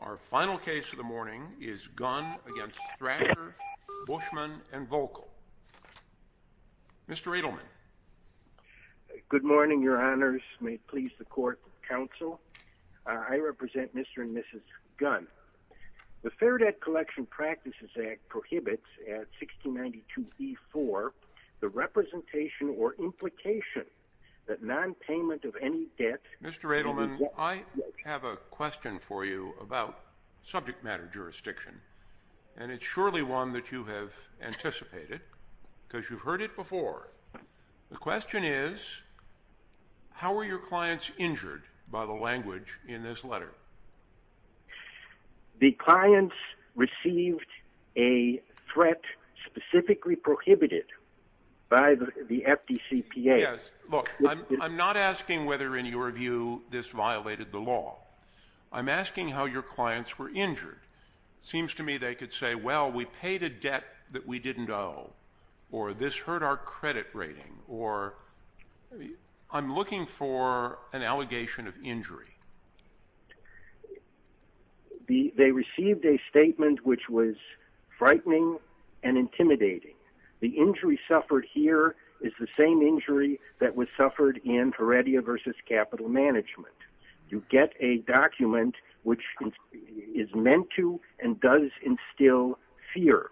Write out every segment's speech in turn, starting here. Our final case of the morning is Gunn v. Thrasher, Buyschmann & Voelkel. Mr. Edelman. Good morning, Your Honors. May it please the Court of Counsel. I represent Mr. and Mrs. Gunn. The Fair Debt Collection Practices Act prohibits at 1692b-4 the representation or implication that nonpayment of any debt... Mr. Edelman, I have a question for you about subject matter jurisdiction. And it's surely one that you have anticipated, because you've heard it before. The question is, how were your clients injured by the language in this letter? The clients received a threat specifically prohibited by the FDCPA. Yes. Look, I'm not asking whether in your view this violated the law. I'm asking how your clients were injured. It seems to me they could say, well, we paid a debt that we didn't owe, or this hurt our credit rating, or... I'm looking for an allegation of injury. They received a statement which was frightening and intimidating. The injury suffered here is the same injury that was suffered in Heredia v. Capital Management. You get a document which is meant to and does instill fear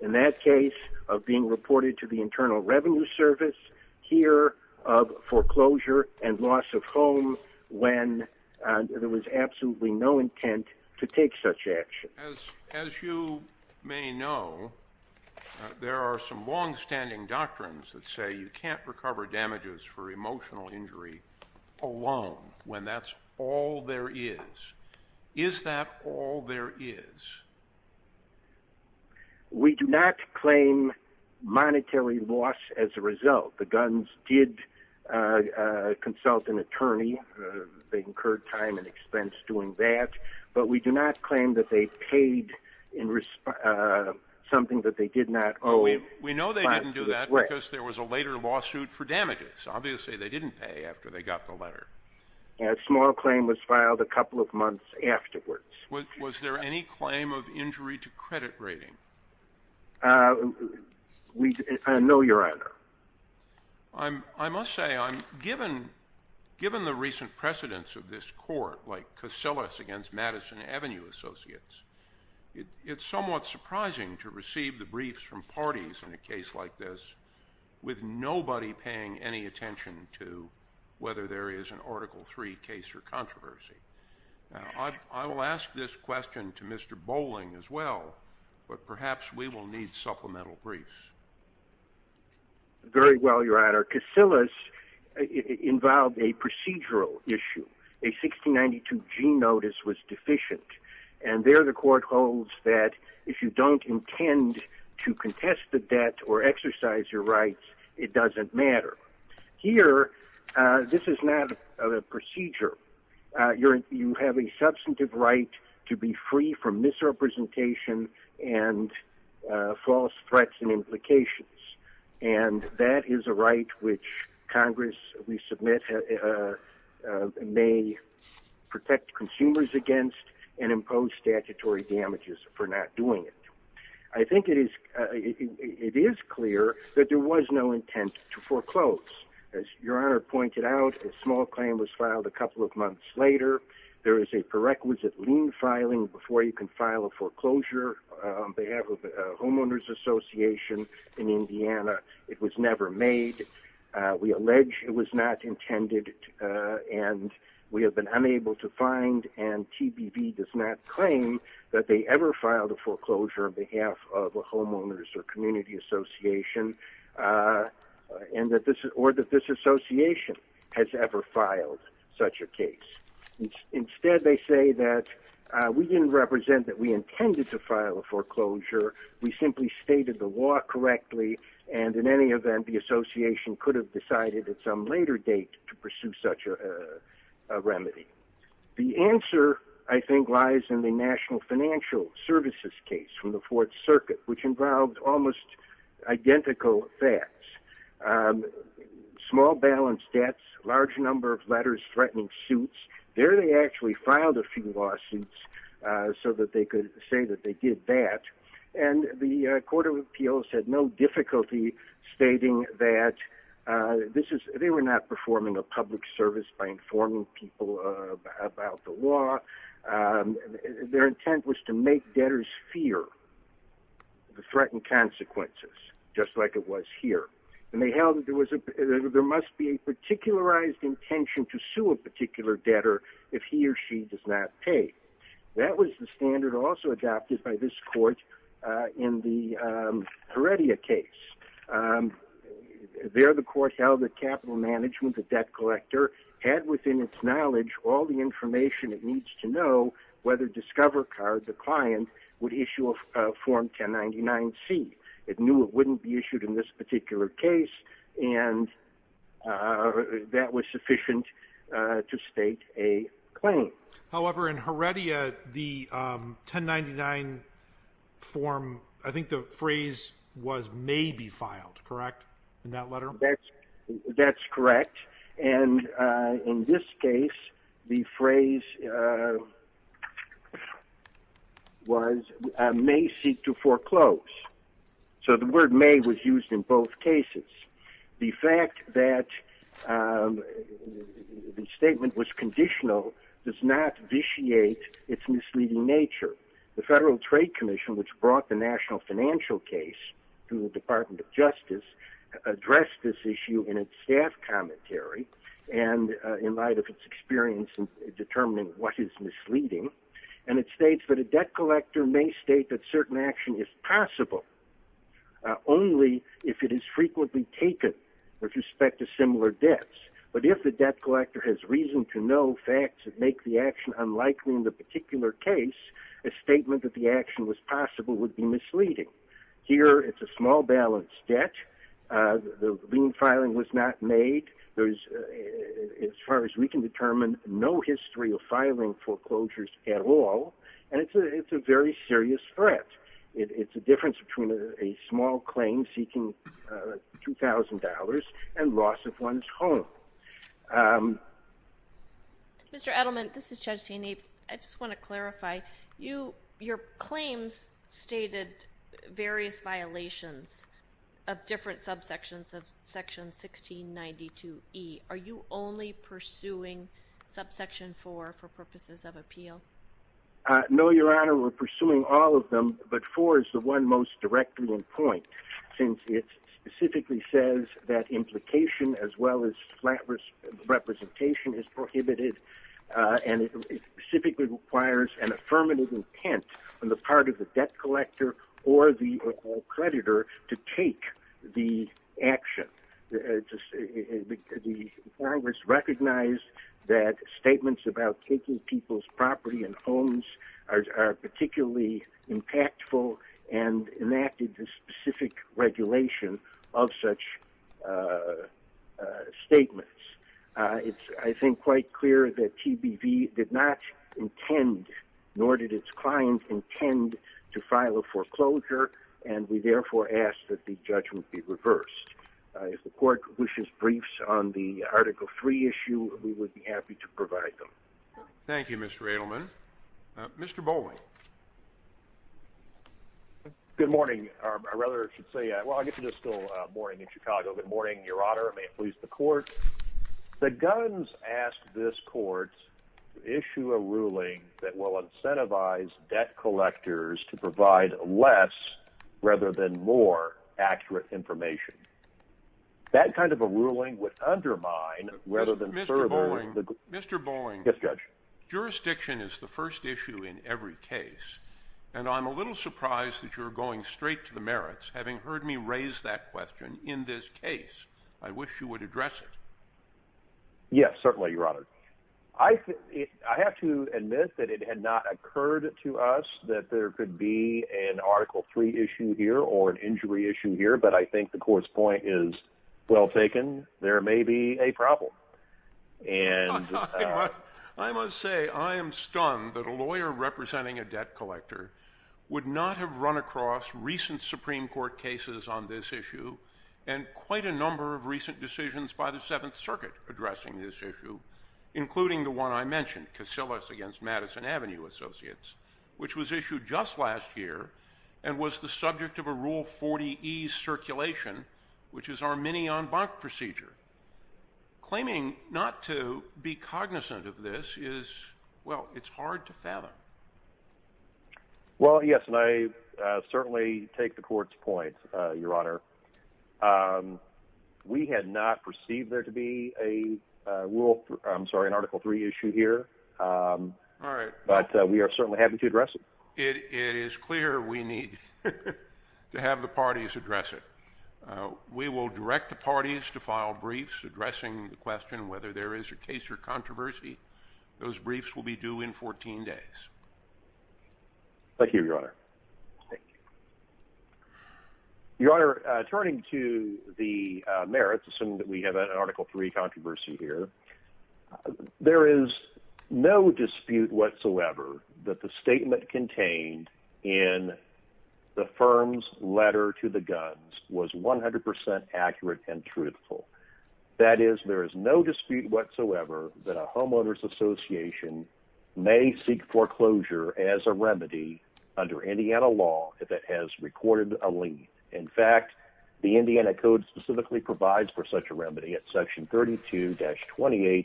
in that case of being reported to the Internal Revenue Service, here of foreclosure and loss of home when there was absolutely no intent to take such action. As you may know, there are some longstanding doctrines that say you can't recover damages for emotional injury alone, when that's all there is. Is that all there is? We do not claim monetary loss as a result. The guns did consult an attorney. They incurred time and expense doing that. But we do not claim that they paid something that they did not owe. We know they didn't do that because there was a later lawsuit for damages. Obviously, they didn't pay after they got the letter. A small claim was filed a couple of months afterwards. Was there any claim of injury to credit rating? No, Your Honor. I must say, given the recent precedence of this court, like Cosillas against Madison Avenue Associates, it's somewhat surprising to receive the briefs from parties in a case like this with nobody paying any attention to whether there is an Article III case or controversy. I will ask this question to Mr. Bowling as well, but perhaps we will need supplemental briefs. Very well, Your Honor. Cosillas involved a procedural issue. A 1692G notice was deficient. And there the court holds that if you don't intend to contest the debt or exercise your rights, it doesn't matter. Here, this is not a procedure. You have a substantive right to be free from misrepresentation and false threats and implications. And that is a right which Congress, we submit, may protect consumers against and impose statutory damages for not doing it. I think it is clear that there was no intent to foreclose. As Your Honor pointed out, a small claim was filed a couple of months later. There is a prerequisite lien filing before you can file a foreclosure on behalf of a homeowners association in Indiana. It was never made. We allege it was not intended, and we have been unable to find, and TBB does not claim that they ever filed a foreclosure on behalf of a homeowners or community association. Or that this association has ever filed such a case. Instead, they say that we didn't represent that we intended to file a foreclosure. We simply stated the law correctly, and in any event, the association could have decided at some later date to pursue such a remedy. The answer, I think, lies in the National Financial Services case from the Fourth Circuit, which involved almost identical facts. Small balance debts, large number of letters threatening suits. There they actually filed a few lawsuits so that they could say that they did that. The Court of Appeals had no difficulty stating that they were not performing a public service by informing people about the law. Their intent was to make debtors fear the threatened consequences, just like it was here. They held that there must be a particularized intention to sue a particular debtor if he or she does not pay. That was the standard also adopted by this court in the Heredia case. There the court held that Capital Management, the debt collector, had within its knowledge all the information it needs to know whether Discover Card, the client, would issue a Form 1099-C. It knew it wouldn't be issued in this particular case, and that was sufficient to state a claim. However, in Heredia, the 1099 form, I think the phrase was may be filed, correct, in that letter? That's correct. And in this case, the phrase was may seek to foreclose. So the word may was used in both cases. The fact that the statement was conditional does not vitiate its misleading nature. The Federal Trade Commission, which brought the national financial case to the Department of Justice, addressed this issue in its staff commentary and in light of its experience in determining what is misleading. And it states that a debt collector may state that certain action is possible only if it is frequently taken with respect to similar debts. But if the debt collector has reason to know facts that make the action unlikely in the particular case, a statement that the action was possible would be misleading. Here, it's a small balance debt. The lien filing was not made. As far as we can determine, no history of filing foreclosures at all, and it's a very serious threat. It's a difference between a small claim seeking $2,000 and loss of one's home. Mr. Edelman, this is Judge Taney. I just want to clarify. Your claims stated various violations of different subsections of Section 1692E. Are you only pursuing subsection 4 for purposes of appeal? No, Your Honor. We're pursuing all of them, but 4 is the one most directly in point, since it specifically says that implication as well as flat representation is prohibited, and it specifically requires an affirmative intent on the part of the debt collector or the creditor to take the action. Congress recognized that statements about taking people's property and homes are particularly impactful and enacted the specific regulation of such statements. It's, I think, quite clear that TBV did not intend, nor did its client intend, to file a foreclosure, and we therefore ask that the judgment be reversed. If the court wishes briefs on the Article 3 issue, we would be happy to provide them. Thank you, Mr. Edelman. Mr. Bowling. Good morning. I rather should say, well, I get to do this still morning in Chicago. Good morning, Your Honor. May it please the court. The guns asked this court to issue a ruling that will incentivize debt collectors to provide less rather than more accurate information. That kind of a ruling would undermine rather than further the— Mr. Bowling. Mr. Bowling. Yes, Judge. Jurisdiction is the first issue in every case, and I'm a little surprised that you're going straight to the merits, having heard me raise that question in this case. I wish you would address it. Yes, certainly, Your Honor. I have to admit that it had not occurred to us that there could be an Article 3 issue here or an injury issue here, but I think the court's point is well taken. There may be a problem. I must say I am stunned that a lawyer representing a debt collector would not have run across recent Supreme Court cases on this issue and quite a number of recent decisions by the Seventh Circuit addressing this issue, including the one I mentioned, Casillas v. Madison Avenue Associates, which was issued just last year and was the subject of a Rule 40e circulation, which is our mini-en banc procedure. Claiming not to be cognizant of this is—well, it's hard to fathom. Well, yes, and I certainly take the court's point, Your Honor. We had not perceived there to be a Rule—I'm sorry, an Article 3 issue here. All right. But we are certainly happy to address it. It is clear we need to have the parties address it. We will direct the parties to file briefs addressing the question whether there is a case or controversy. Those briefs will be due in 14 days. Thank you, Your Honor. Thank you. Your Honor, turning to the merits, assuming that we have an Article 3 controversy here, there is no dispute whatsoever that the statement contained in the firm's letter to the guns was 100% accurate and truthful. That is, there is no dispute whatsoever that a homeowners association may seek foreclosure as a remedy under Indiana law if it has recorded a lien. In fact, the Indiana Code specifically provides for such a remedy at Section 32-28-14-8.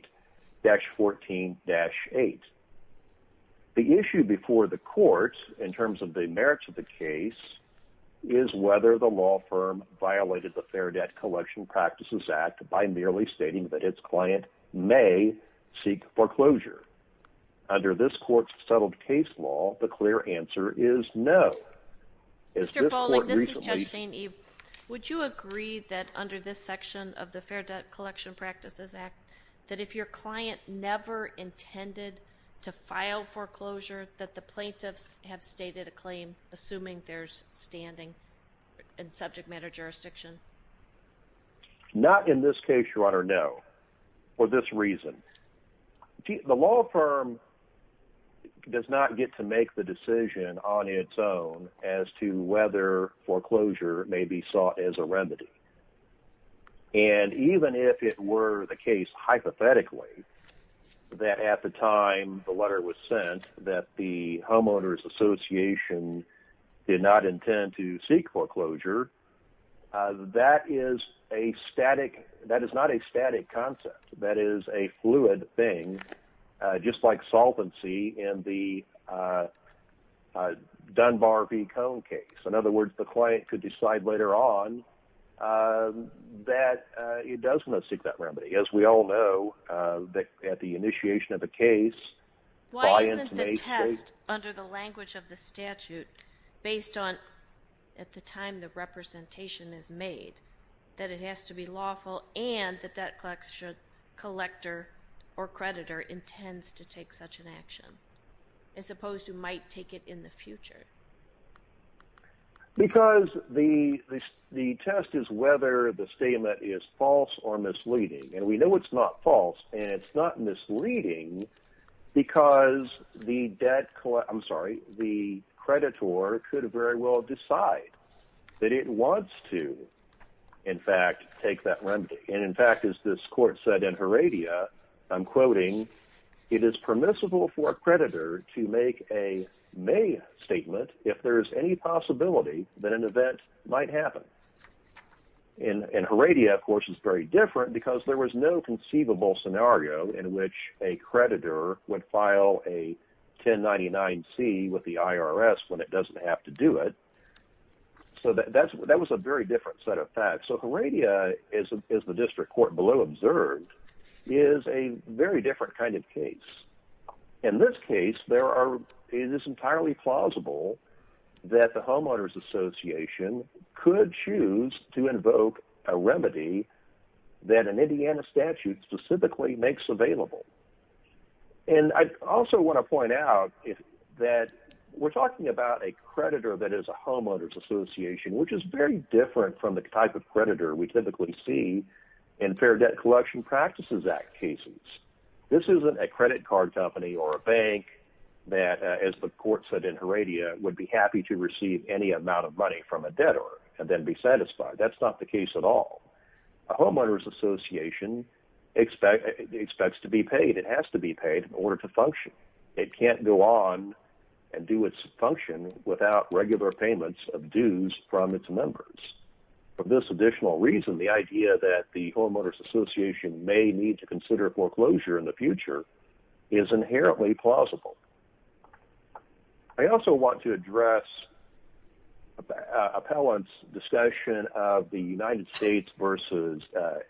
The issue before the court, in terms of the merits of the case, is whether the law firm violated the Fair Debt Collection Practices Act by merely stating that its client may seek foreclosure. Under this court's settled case law, the clear answer is no. Mr. Bolling, this is Judge St. Eve. Would you agree that under this section of the Fair Debt Collection Practices Act, that if your client never intended to file foreclosure, that the plaintiffs have stated a claim, assuming there's standing in subject matter jurisdiction? Not in this case, Your Honor, no, for this reason. The law firm does not get to make the decision on its own as to whether foreclosure may be sought as a remedy. And even if it were the case, hypothetically, that at the time the letter was sent, that the homeowners association did not intend to seek foreclosure, that is a static, that is not a static concept. That is a fluid thing, just like solvency in the Dunbar v. Cone case. In other words, the client could decide later on that it does not seek that remedy. As we all know, at the initiation of the case, by intonation... Based on, at the time the representation is made, that it has to be lawful and the debt collector or creditor intends to take such an action, as opposed to might take it in the future. Because the test is whether the statement is false or misleading. And we know it's not false and it's not misleading because the debt collector, I'm sorry, the creditor could very well decide that it wants to, in fact, take that remedy. And in fact, as this court said in Heredia, I'm quoting, it is permissible for a creditor to make a may statement if there is any possibility that an event might happen. And Heredia, of course, is very different because there was no conceivable scenario in which a creditor would file a 1099-C with the IRS when it doesn't have to do it. So that was a very different set of facts. So Heredia, as the district court below observed, is a very different kind of case. In this case, it is entirely plausible that the homeowners association could choose to invoke a remedy that an Indiana statute specifically makes available. And I also want to point out that we're talking about a creditor that is a homeowners association, which is very different from the type of creditor we typically see in Fair Debt Collection Practices Act cases. This isn't a credit card company or a bank that, as the court said in Heredia, would be happy to receive any amount of money from a debtor and then be satisfied. That's not the case at all. A homeowners association expects to be paid. It has to be paid in order to function. It can't go on and do its function without regular payments of dues from its members. For this additional reason, the idea that the homeowners association may need to consider foreclosure in the future is inherently plausible. I also want to address appellants' discussion of the United States versus the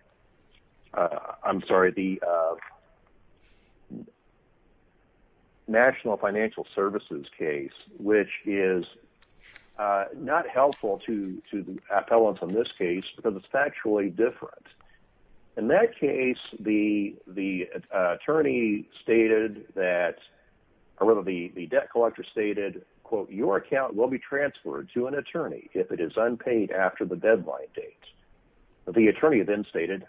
National Financial Services case, which is not helpful to the appellants in this case because it's factually different. In that case, the debt collector stated, The attorney then stated,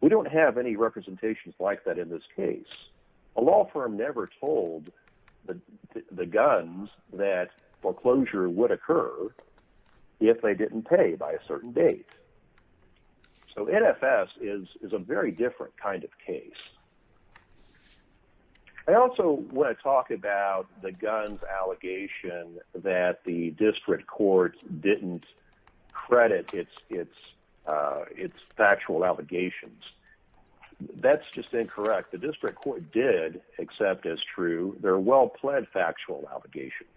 We don't have any representations like that in this case. A law firm never told the guns that foreclosure would occur if they didn't pay by a certain date. So NFS is a very different kind of case. I also want to talk about the guns allegation that the district court didn't credit its factual allegations. That's just incorrect. The district court did accept as true their well-pled factual allegations.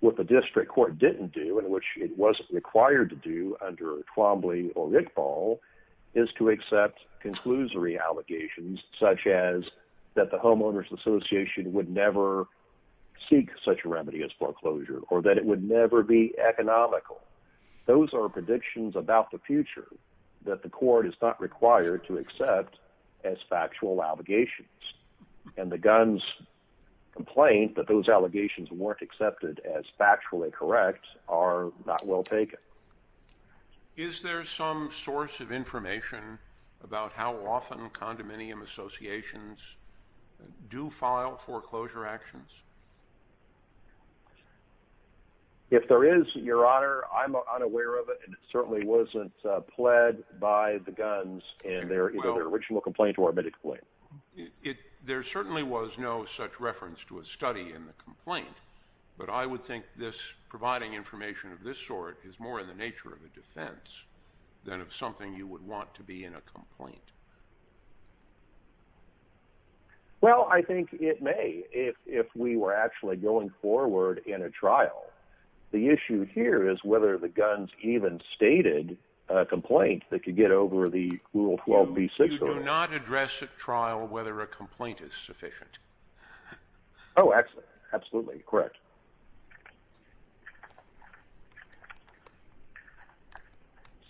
What the district court didn't do, and which it wasn't required to do under Twombly or Rickball, is to accept conclusory allegations, such as that the homeowners association would never seek such a remedy as foreclosure, or that it would never be economical. Those are predictions about the future that the court is not required to accept as factual allegations. And the guns complaint that those allegations weren't accepted as factually correct are not well taken. Is there some source of information about how often condominium associations do file foreclosure actions? If there is, Your Honor, I'm unaware of it. It certainly wasn't pled by the guns in their original complaint or admitted complaint. There certainly was no such reference to a study in the complaint, but I would think providing information of this sort is more in the nature of a defense than of something you would want to be in a complaint. Well, I think it may, if we were actually going forward in a trial. The issue here is whether the guns even stated a complaint that could get over the Rule 12b6 or not. You do not address at trial whether a complaint is sufficient. Oh, absolutely. Correct.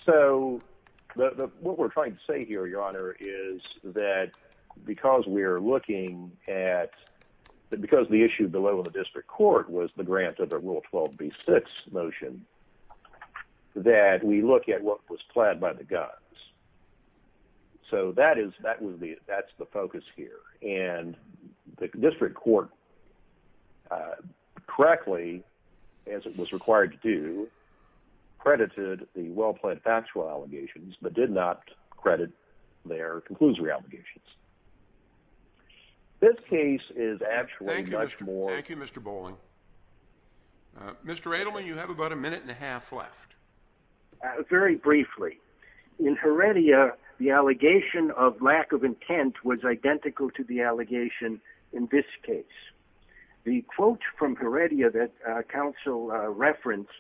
So, what we're trying to say here, Your Honor, is that because we're looking at, because the issue below the district court was the grant of the Rule 12b6 motion, that we look at what was pled by the guns. So, that's the focus here. And the district court, correctly, as it was required to do, credited the well-pled factual allegations, but did not credit their conclusory allegations. This case is actually much more... Thank you, Mr Bowling. Mr Adelman, you have about a minute and a half left. Very briefly. In Heredia, the allegation of lack of intent was identical to the allegation in this case. The quote from Heredia that counsel referenced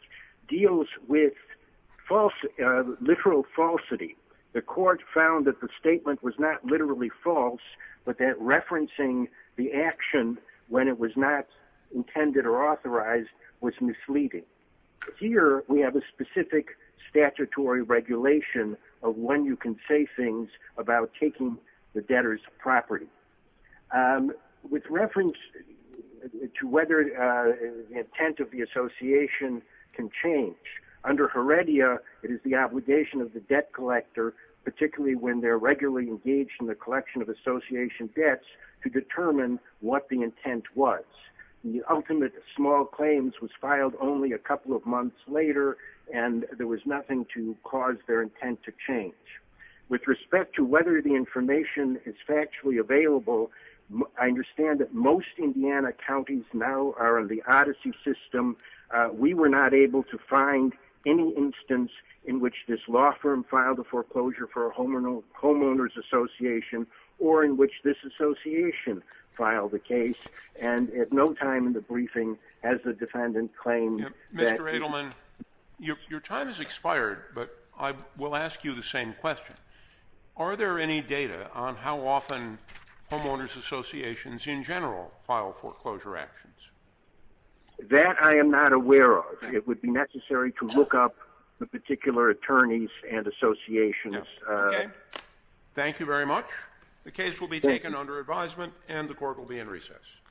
deals with literal falsity. The court found that the statement was not literally false, but that referencing the action when it was not intended or authorized was misleading. Here, we have a specific statutory regulation of when you can say things about taking the debtor's property. With reference to whether the intent of the association can change, under Heredia, it is the obligation of the debt collector, particularly when they're regularly engaged in the collection of association debts, to determine what the intent was. The ultimate small claims was filed only a couple of months later, and there was nothing to cause their intent to change. With respect to whether the information is factually available, I understand that most Indiana counties now are on the Odyssey system. We were not able to find any instance in which this law firm filed a foreclosure for a homeowner's association or in which this association filed a case. And at no time in the briefing has the defendant claimed that... Mr. Adelman, your time has expired, but I will ask you the same question. Are there any data on how often homeowners' associations, in general, file foreclosure actions? That I am not aware of. It would be necessary to look up the particular attorneys and associations. Okay. Thank you very much. The case will be taken under advisement, and the court will be in recess.